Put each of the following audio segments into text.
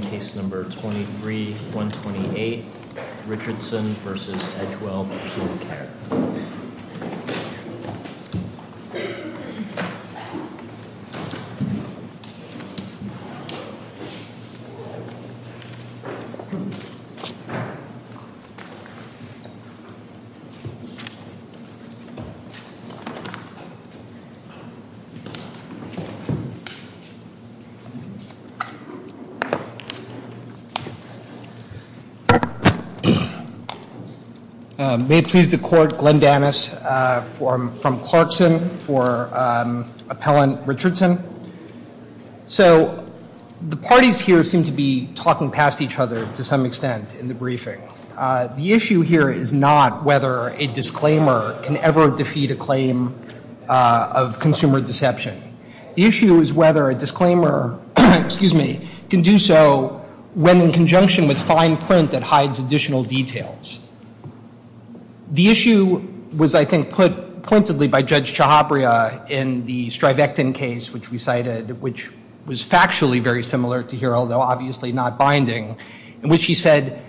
Case No. 23-128, Richardson v. Edgewell Personal Care May it please the Court, Glenn Danis from Clarkson for Appellant Richardson. So the parties here seem to be talking past each other to some extent in the briefing. The issue here is not whether a disclaimer can ever defeat a claim of consumer deception. The issue is whether a disclaimer can do so when in conjunction with fine print that hides additional details. The issue was, I think, put pointedly by Judge Chhabria in the Strivectin case, which we cited, which was factually very similar to here, although obviously not binding, in which he said,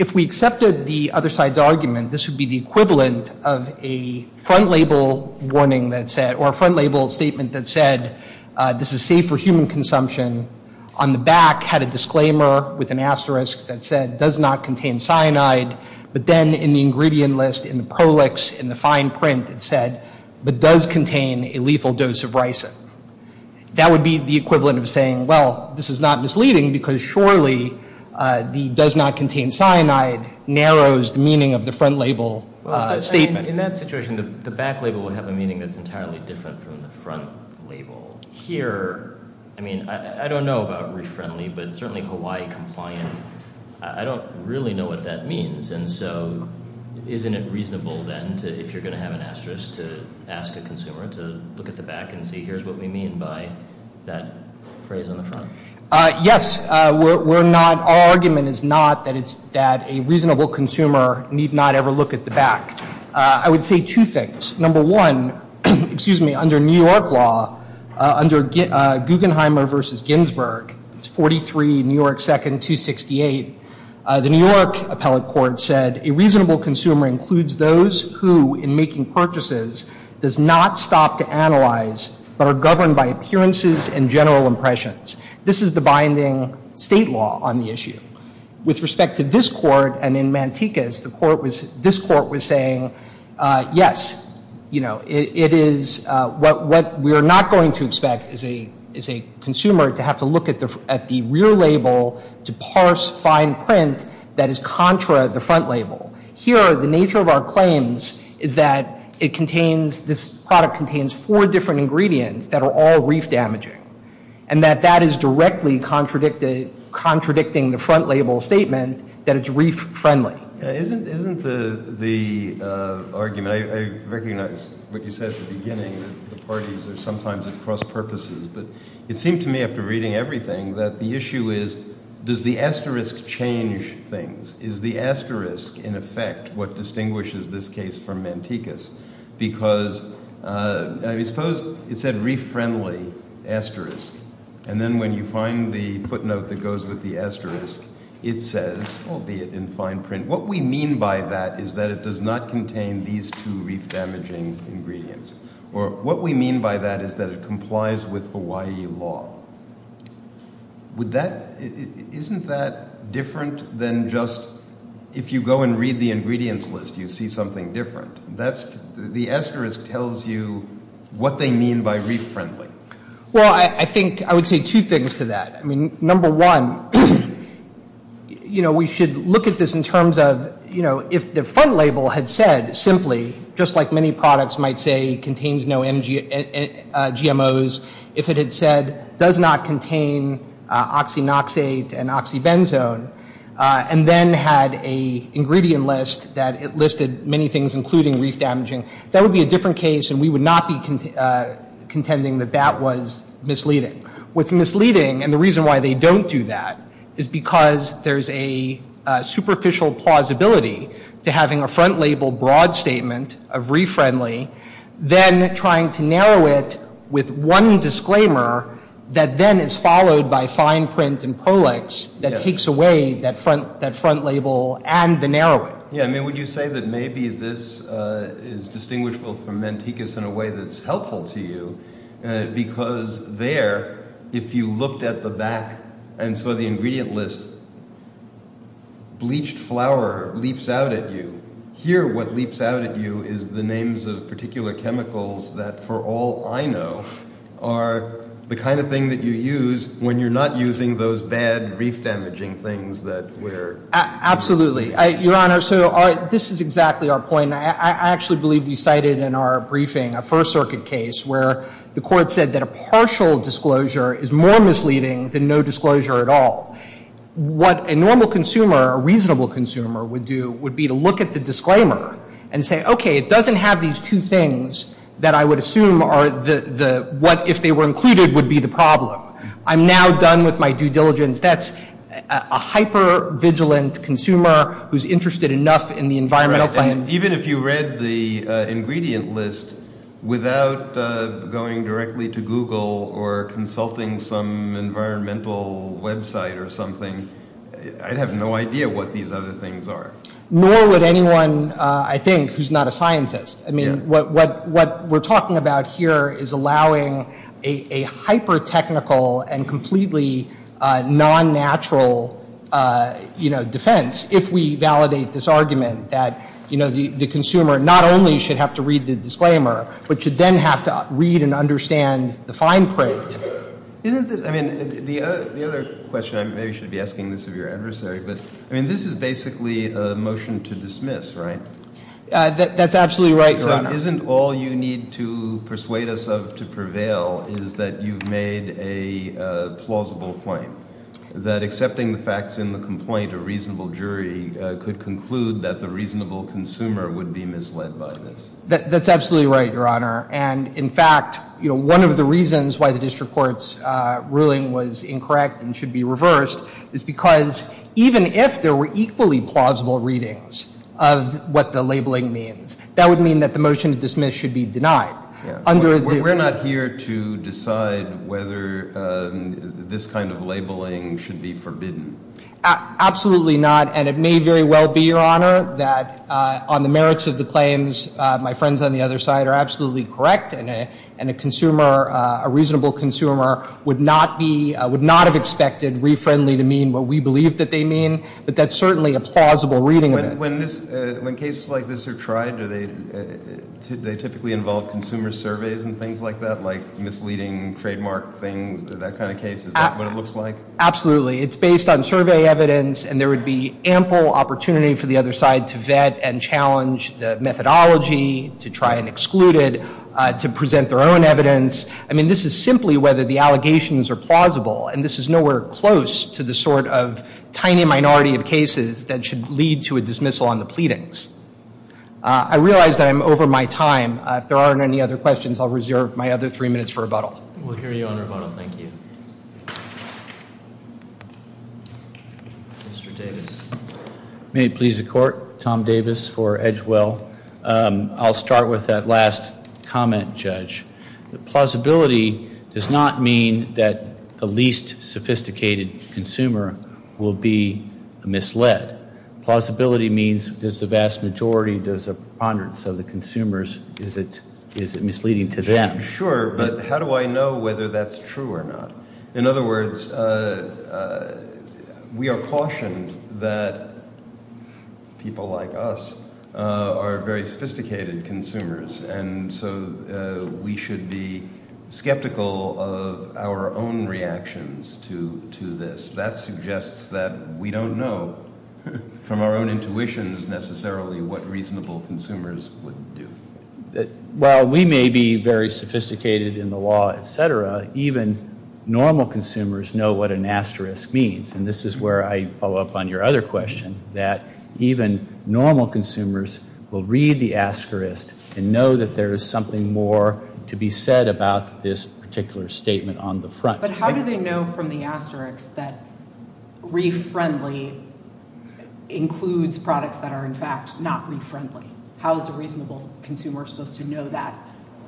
if we accepted the other side's argument, this would be the equivalent of a front label warning that said, or a front label statement that said, this is safe for human consumption, on the back had a disclaimer with an asterisk that said, does not contain cyanide, but then in the ingredient list, in the prolix, in the fine print, it said, but does contain a lethal dose of ricin. That would be the equivalent of saying, well, this is not misleading because surely the does not contain cyanide narrows the meaning of the front label statement. In that situation, the back label would have a meaning that's entirely different from the front label. Here, I mean, I don't know about refriendly, but certainly Hawaii compliant, I don't really know what that means. And so isn't it reasonable then if you're going to have an asterisk to ask a consumer to look at the back and see here's what we mean by that phrase on the front? Yes. We're not, our argument is not that it's, that a reasonable consumer need not ever look at the back. I would say two things. Number one, excuse me, under New York law, under Guggenheim versus Ginsburg, it's 43 New York 2nd 268, the New York appellate court said, a reasonable consumer includes those who, in making purchases, does not stop to analyze, but are governed by appearances and general impressions. This is the binding state law on the issue. With respect to this court and in Mantecas, the court was, this court was saying, yes, you know, it is what we are not going to expect as a consumer to have to look at the rear label to parse fine print that is contra the front label. Here, the nature of our claims is that it contains, this product contains four different ingredients that are all reef damaging, and that that is directly contradicting the front label statement that it's reef friendly. Isn't the argument, I recognize what you said at the beginning, that the parties are sometimes at cross purposes, but it seemed to me after reading everything that the issue is, does the asterisk change things? Is the asterisk, in effect, what distinguishes this case from Mantecas? Because I suppose it said reef friendly asterisk, and then when you find the footnote that goes with the asterisk, it says, albeit in fine print, what we mean by that is that it does not contain these two reef damaging ingredients. Or what we mean by that is that it complies with Hawaii law. Isn't that different than just if you go and read the ingredients list, you see something different? The asterisk tells you what they mean by reef friendly. Well, I think I would say two things to that. I mean, number one, you know, we should look at this in terms of, you know, if the front label had said simply, just like many products might say contains no GMOs, if it had said does not contain oxynoxate and oxybenzone, and then had a ingredient list that it listed many things, including reef damaging, that would be a different case, and we would not be contending that that was misleading. What's misleading, and the reason why they don't do that, is because there's a superficial plausibility to having a front label broad statement of reef friendly, then trying to narrow it with one disclaimer that then is followed by fine print and prolex that takes away that front label and the narrowing. Yeah, I mean, would you say that maybe this is distinguishable from Manticus in a way that's helpful to you? Because there, if you looked at the back and saw the ingredient list, bleached flour leaps out at you. Here, what leaps out at you is the names of particular chemicals that, for all I know, are the kind of thing that you use when you're not using those bad reef damaging things that we're... Absolutely. Your Honor, so this is exactly our point. I actually believe we cited in our briefing a First Circuit case where the court said that a partial disclosure is more misleading than no disclosure at all. What a normal consumer, a reasonable consumer, would do would be to look at the disclaimer and say, okay, it doesn't have these two things that I would assume are the... what if they were included would be the problem. I'm now done with my due diligence. That's a hyper-vigilant consumer who's interested enough in the environmental claims... Even if you read the ingredient list, without going directly to Google or consulting some environmental website or something, I'd have no idea what these other things are. Nor would anyone, I think, who's not a scientist. I mean, what we're talking about here is allowing a hyper-technical and completely non-natural defense if we validate this argument that the consumer not only should have to read the disclaimer, but should then have to read and understand the fine print. Isn't this... I mean, the other question, I maybe should be asking this of your adversary, but I mean, this is basically a motion to dismiss, right? That's absolutely right, Your Honor. So isn't all you need to persuade us of to prevail is that you've made a plausible point, that accepting the facts in the complaint, a reasonable jury could conclude that the reasonable consumer would be misled by this? That's absolutely right, Your Honor. And, in fact, one of the reasons why the district court's ruling was incorrect and should be reversed is because even if there were equally plausible readings of what the labeling means, that would mean that the motion to dismiss should be denied. We're not here to decide whether this kind of labeling should be forbidden. Absolutely not, and it may very well be, Your Honor, that on the merits of the claims, my friends on the other side are absolutely correct, and a consumer, a reasonable consumer, would not have expected re-friendly to mean what we believe that they mean, When cases like this are tried, do they typically involve consumer surveys and things like that, like misleading trademark things, that kind of case? Is that what it looks like? Absolutely. It's based on survey evidence, and there would be ample opportunity for the other side to vet and challenge the methodology to try and exclude it, to present their own evidence. I mean, this is simply whether the allegations are plausible, and this is nowhere close to the sort of tiny minority of cases that should lead to a dismissal on the pleadings. I realize that I'm over my time. If there aren't any other questions, I'll reserve my other three minutes for rebuttal. We'll hear you on rebuttal. Thank you. Mr. Davis. May it please the Court, Tom Davis for Edgewell. I'll start with that last comment, Judge. The plausibility does not mean that the least sophisticated consumer will be misled. Plausibility means does the vast majority, does the preponderance of the consumers, is it misleading to them? Sure, but how do I know whether that's true or not? In other words, we are cautioned that people like us are very sophisticated consumers, and so we should be skeptical of our own reactions to this. That suggests that we don't know from our own intuitions necessarily what reasonable consumers would do. While we may be very sophisticated in the law, et cetera, even normal consumers know what an asterisk means, and this is where I follow up on your other question, that even normal consumers will read the asterisk and know that there is something more to be said about this particular statement on the front. But how do they know from the asterisk that re-friendly includes products that are, in fact, not re-friendly? How is a reasonable consumer supposed to know that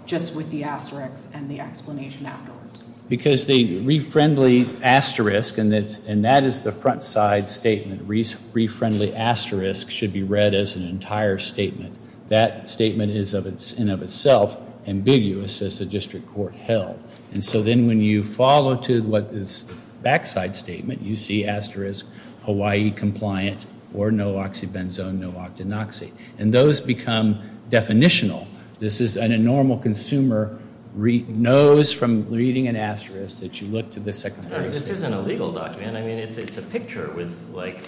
just with the asterisk and the explanation afterwards? Because the re-friendly asterisk, and that is the front side statement, re-friendly asterisk should be read as an entire statement. That statement is, in and of itself, ambiguous as the district court held. And so then when you follow to what is the back side statement, you see asterisk Hawaii compliant or no oxybenzone, no octanoxy, and those become definitional. This is, and a normal consumer knows from reading an asterisk that you look to the second half of the statement. This isn't a legal document. I mean, it's a picture with, like,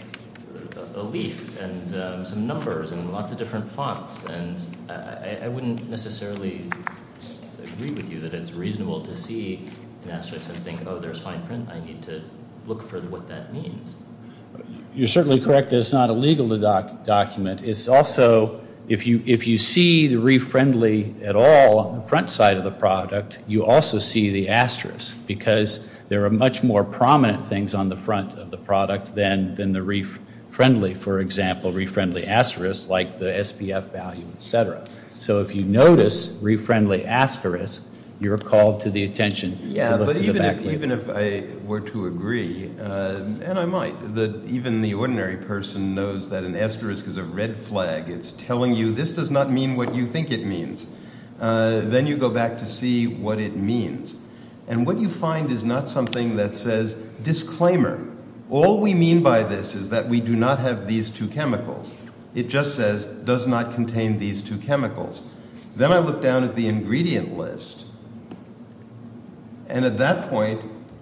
a leaf and some numbers and lots of different fonts, and I wouldn't necessarily agree with you that it's reasonable to see an asterisk and think, oh, there's fine print. I need to look for what that means. You're certainly correct that it's not illegal to document. It's also, if you see the re-friendly at all on the front side of the product, you also see the asterisk because there are much more prominent things on the front of the product than the re-friendly. For example, re-friendly asterisk, like the SPF value, et cetera. So if you notice re-friendly asterisk, you're called to the attention to look to the back. Even if I were to agree, and I might, that even the ordinary person knows that an asterisk is a red flag. It's telling you this does not mean what you think it means. Then you go back to see what it means, and what you find is not something that says disclaimer. All we mean by this is that we do not have these two chemicals. Then I look down at the ingredient list, and at that point,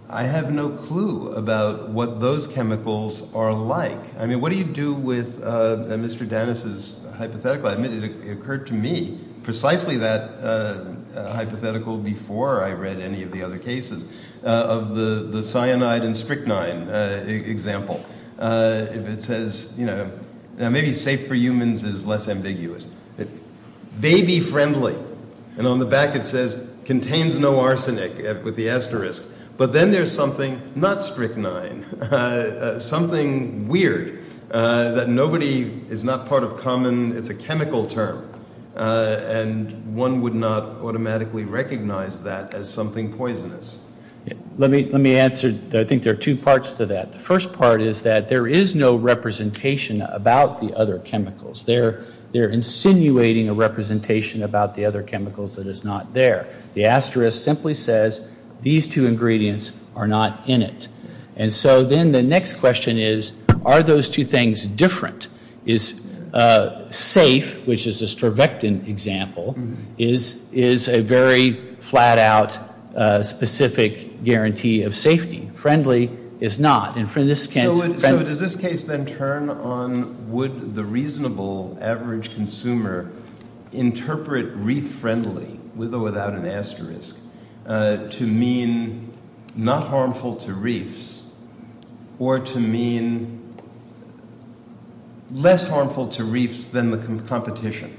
I have no clue about what those chemicals are like. I mean, what do you do with Mr. Dennis' hypothetical? I admit it occurred to me precisely that hypothetical before I read any of the other cases of the cyanide and strychnine example. It says, you know, maybe safe for humans is less ambiguous. It may be friendly, and on the back it says contains no arsenic with the asterisk. But then there's something not strychnine, something weird that nobody is not part of common. It's a chemical term, and one would not automatically recognize that as something poisonous. Let me answer. I think there are two parts to that. The first part is that there is no representation about the other chemicals. They're insinuating a representation about the other chemicals that is not there. The asterisk simply says these two ingredients are not in it. And so then the next question is, are those two things different? Is safe, which is a stryvectin example, is a very flat-out specific guarantee of safety. Friendly is not. So does this case then turn on would the reasonable average consumer interpret reef friendly, with or without an asterisk, to mean not harmful to reefs or to mean less harmful to reefs than the competition?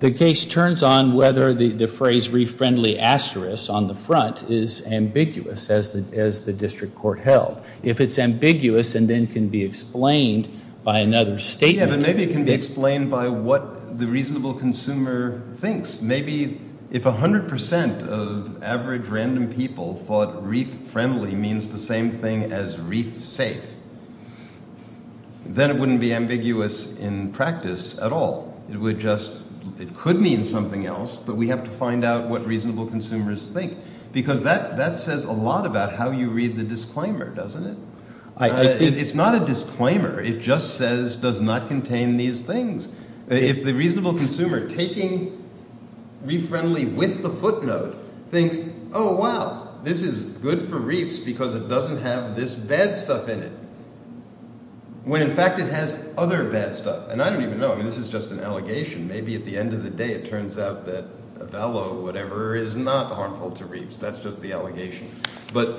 The case turns on whether the phrase reef friendly asterisk on the front is ambiguous, as the district court held. If it's ambiguous and then can be explained by another statement. Yeah, but maybe it can be explained by what the reasonable consumer thinks. Maybe if 100% of average random people thought reef friendly means the same thing as reef safe, then it wouldn't be ambiguous in practice at all. It would just, it could mean something else, but we have to find out what reasonable consumers think. Because that says a lot about how you read the disclaimer, doesn't it? It's not a disclaimer. It just says does not contain these things. If the reasonable consumer taking reef friendly with the footnote thinks, oh wow, this is good for reefs because it doesn't have this bad stuff in it, when in fact it has other bad stuff. And I don't even know. I mean, this is just an allegation. Maybe at the end of the day it turns out that a bellow or whatever is not harmful to reefs. That's just the allegation. But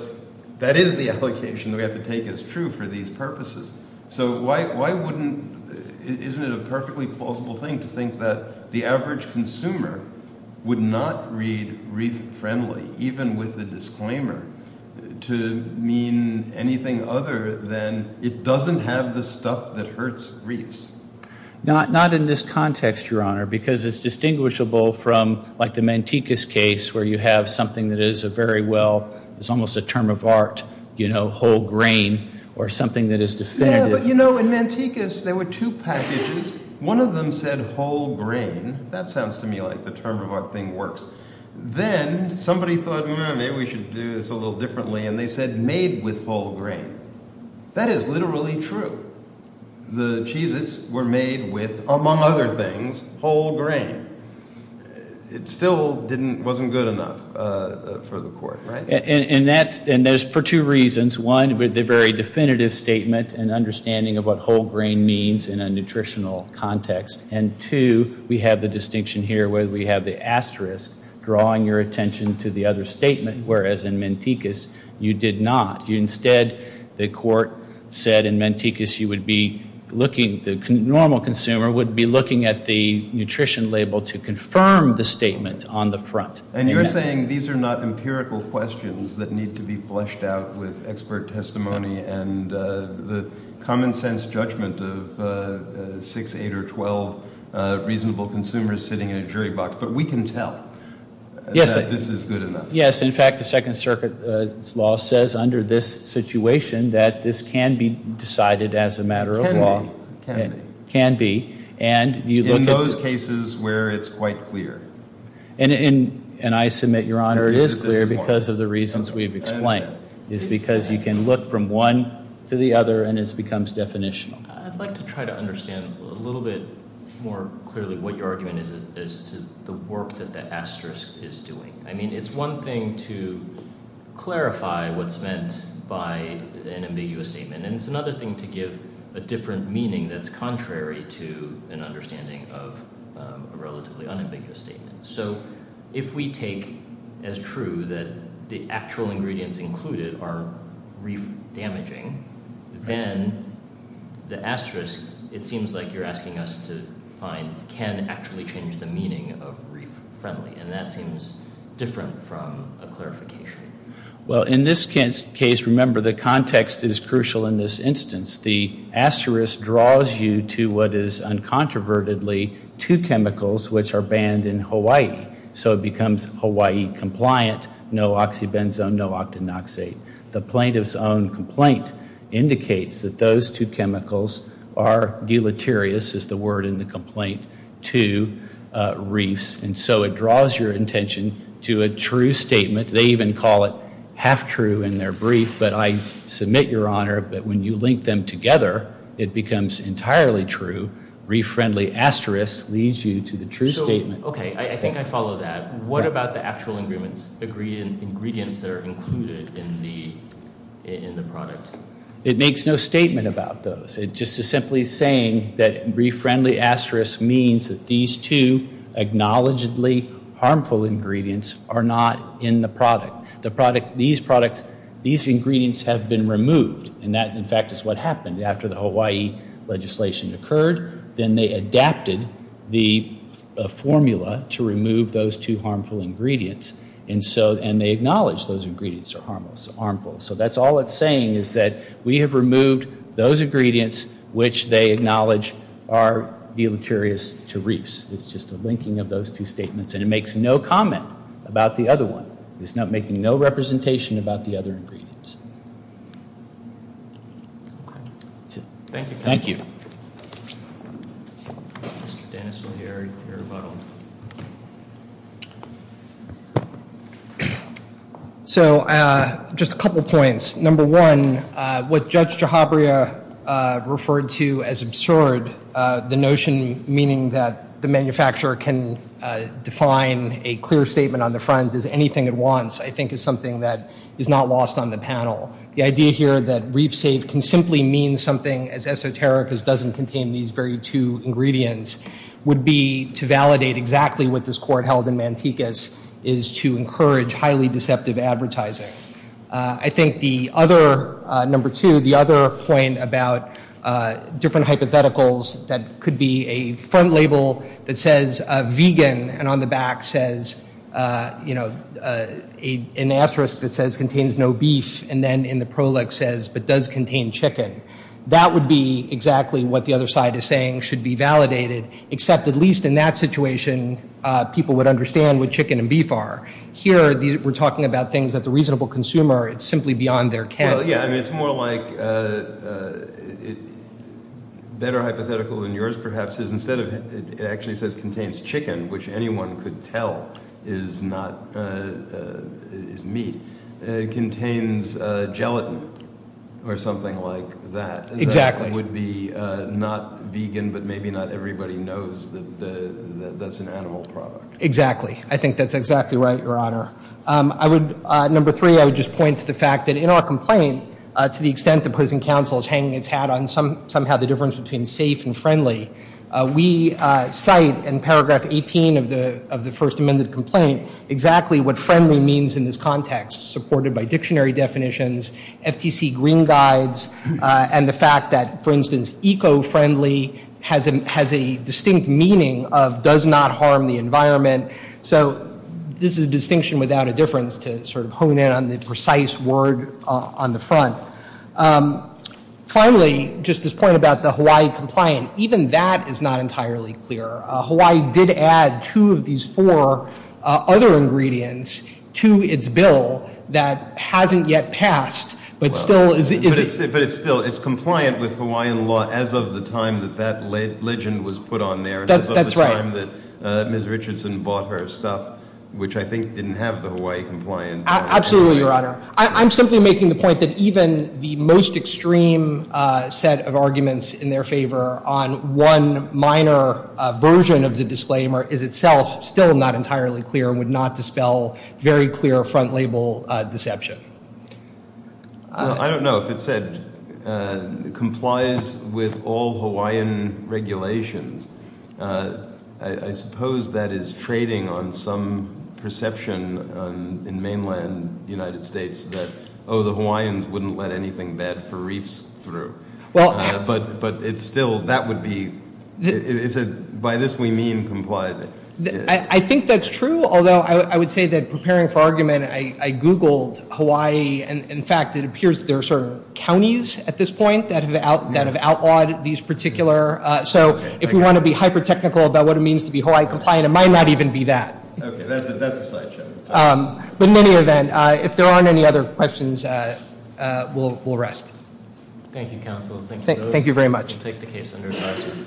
that is the allegation that we have to take as true for these purposes. So why wouldn't, isn't it a perfectly plausible thing to think that the average consumer would not read reef friendly, even with the disclaimer, to mean anything other than it doesn't have the stuff that hurts reefs? Not in this context, Your Honor, because it's distinguishable from like the Manticus case where you have something that is a very well, it's almost a term of art, you know, whole grain or something that is defended. Yeah, but you know, in Manticus there were two packages. One of them said whole grain. That sounds to me like the term of art thing works. Then somebody thought maybe we should do this a little differently, and they said made with whole grain. That is literally true. The Cheez-Its were made with, among other things, whole grain. It still wasn't good enough for the court, right? And that's for two reasons. One, the very definitive statement and understanding of what whole grain means in a nutritional context. And two, we have the distinction here where we have the asterisk drawing your attention to the other statement, whereas in Manticus you did not. Instead, the court said in Manticus you would be looking, the normal consumer would be looking at the nutrition label to confirm the statement on the front. And you're saying these are not empirical questions that need to be fleshed out with expert testimony and the common sense judgment of six, eight, or 12 reasonable consumers sitting in a jury box. But we can tell that this is good enough. Yes. In fact, the Second Circuit's law says under this situation that this can be decided as a matter of law. Can be. Can be. And you look at- In those cases where it's quite clear. And I submit, Your Honor, it is clear because of the reasons we've explained. It's because you can look from one to the other and it becomes definitional. I'd like to try to understand a little bit more clearly what your argument is to the work that the asterisk is doing. I mean, it's one thing to clarify what's meant by an ambiguous statement, and it's another thing to give a different meaning that's contrary to an understanding of a relatively unambiguous statement. So if we take as true that the actual ingredients included are reef damaging, then the asterisk, it seems like you're asking us to find, can actually change the meaning of reef friendly. Well, in this case, remember the context is crucial in this instance. The asterisk draws you to what is uncontrovertedly two chemicals which are banned in Hawaii. So it becomes Hawaii compliant, no oxybenzone, no octanoxate. The plaintiff's own complaint indicates that those two chemicals are deleterious, is the word in the complaint, to reefs. And so it draws your intention to a true statement. They even call it half true in their brief. But I submit, Your Honor, that when you link them together, it becomes entirely true. Reef friendly asterisk leads you to the true statement. Okay. I think I follow that. What about the actual ingredients that are included in the product? It makes no statement about those. It just is simply saying that reef friendly asterisk means that these two acknowledgedly harmful ingredients are not in the product. These products, these ingredients have been removed. And that, in fact, is what happened after the Hawaii legislation occurred. Then they adapted the formula to remove those two harmful ingredients. And they acknowledged those ingredients are harmful. So that's all it's saying is that we have removed those ingredients which they acknowledge are deleterious to reefs. It's just a linking of those two statements. And it makes no comment about the other one. It's making no representation about the other ingredients. Thank you. Thank you. So just a couple points. Number one, what Judge Jahabria referred to as absurd, the notion meaning that the manufacturer can define a clear statement on the front as anything it wants, I think is something that is not lost on the panel. The idea here that reef safe can simply mean something as esoteric as doesn't contain these very two ingredients would be to validate exactly what this court held in Mantecas is to encourage highly deceptive advertising. I think the other, number two, the other point about different hypotheticals, that could be a front label that says vegan and on the back says, you know, an asterisk that says contains no beef and then in the proleg says but does contain chicken. That would be exactly what the other side is saying should be validated, except at least in that situation people would understand what chicken and beef are. Here we're talking about things that the reasonable consumer, it's simply beyond their category. Well, yeah, I mean it's more like better hypothetical than yours perhaps is instead of it actually says contains chicken, which anyone could tell is not meat, contains gelatin or something like that. Exactly. That would be not vegan, but maybe not everybody knows that that's an animal product. Exactly. I think that's exactly right, Your Honor. I would, number three, I would just point to the fact that in our complaint, to the extent the opposing counsel is hanging its hat on somehow the difference between safe and friendly, we cite in paragraph 18 of the first amended complaint exactly what friendly means in this context, supported by dictionary definitions, FTC green guides, and the fact that, for instance, eco-friendly has a distinct meaning of does not harm the environment. So this is a distinction without a difference to sort of hone in on the precise word on the front. Finally, just this point about the Hawaii compliant, even that is not entirely clear. Hawaii did add two of these four other ingredients to its bill that hasn't yet passed, but still is it. But it's still, it's compliant with Hawaiian law as of the time that that legend was put on there. That's right. As of the time that Ms. Richardson bought her stuff, which I think didn't have the Hawaii compliant. Absolutely, Your Honor. I'm simply making the point that even the most extreme set of arguments in their favor on one minor version of the disclaimer is itself still not entirely clear and would not dispel very clear front label deception. I don't know if it said complies with all Hawaiian regulations. I suppose that is trading on some perception in mainland United States that, oh, the Hawaiians wouldn't let anything bad for reefs through. But it's still, that would be, by this we mean compliant. I think that's true, although I would say that preparing for argument, I Googled Hawaii, and in fact it appears there are sort of counties at this point that have outlawed these particular. So if we want to be hyper technical about what it means to be Hawaii compliant, it might not even be that. Okay, that's a side show. But in any event, if there aren't any other questions, we'll rest. Thank you, counsel. Thank you very much. We'll take the case under advisory.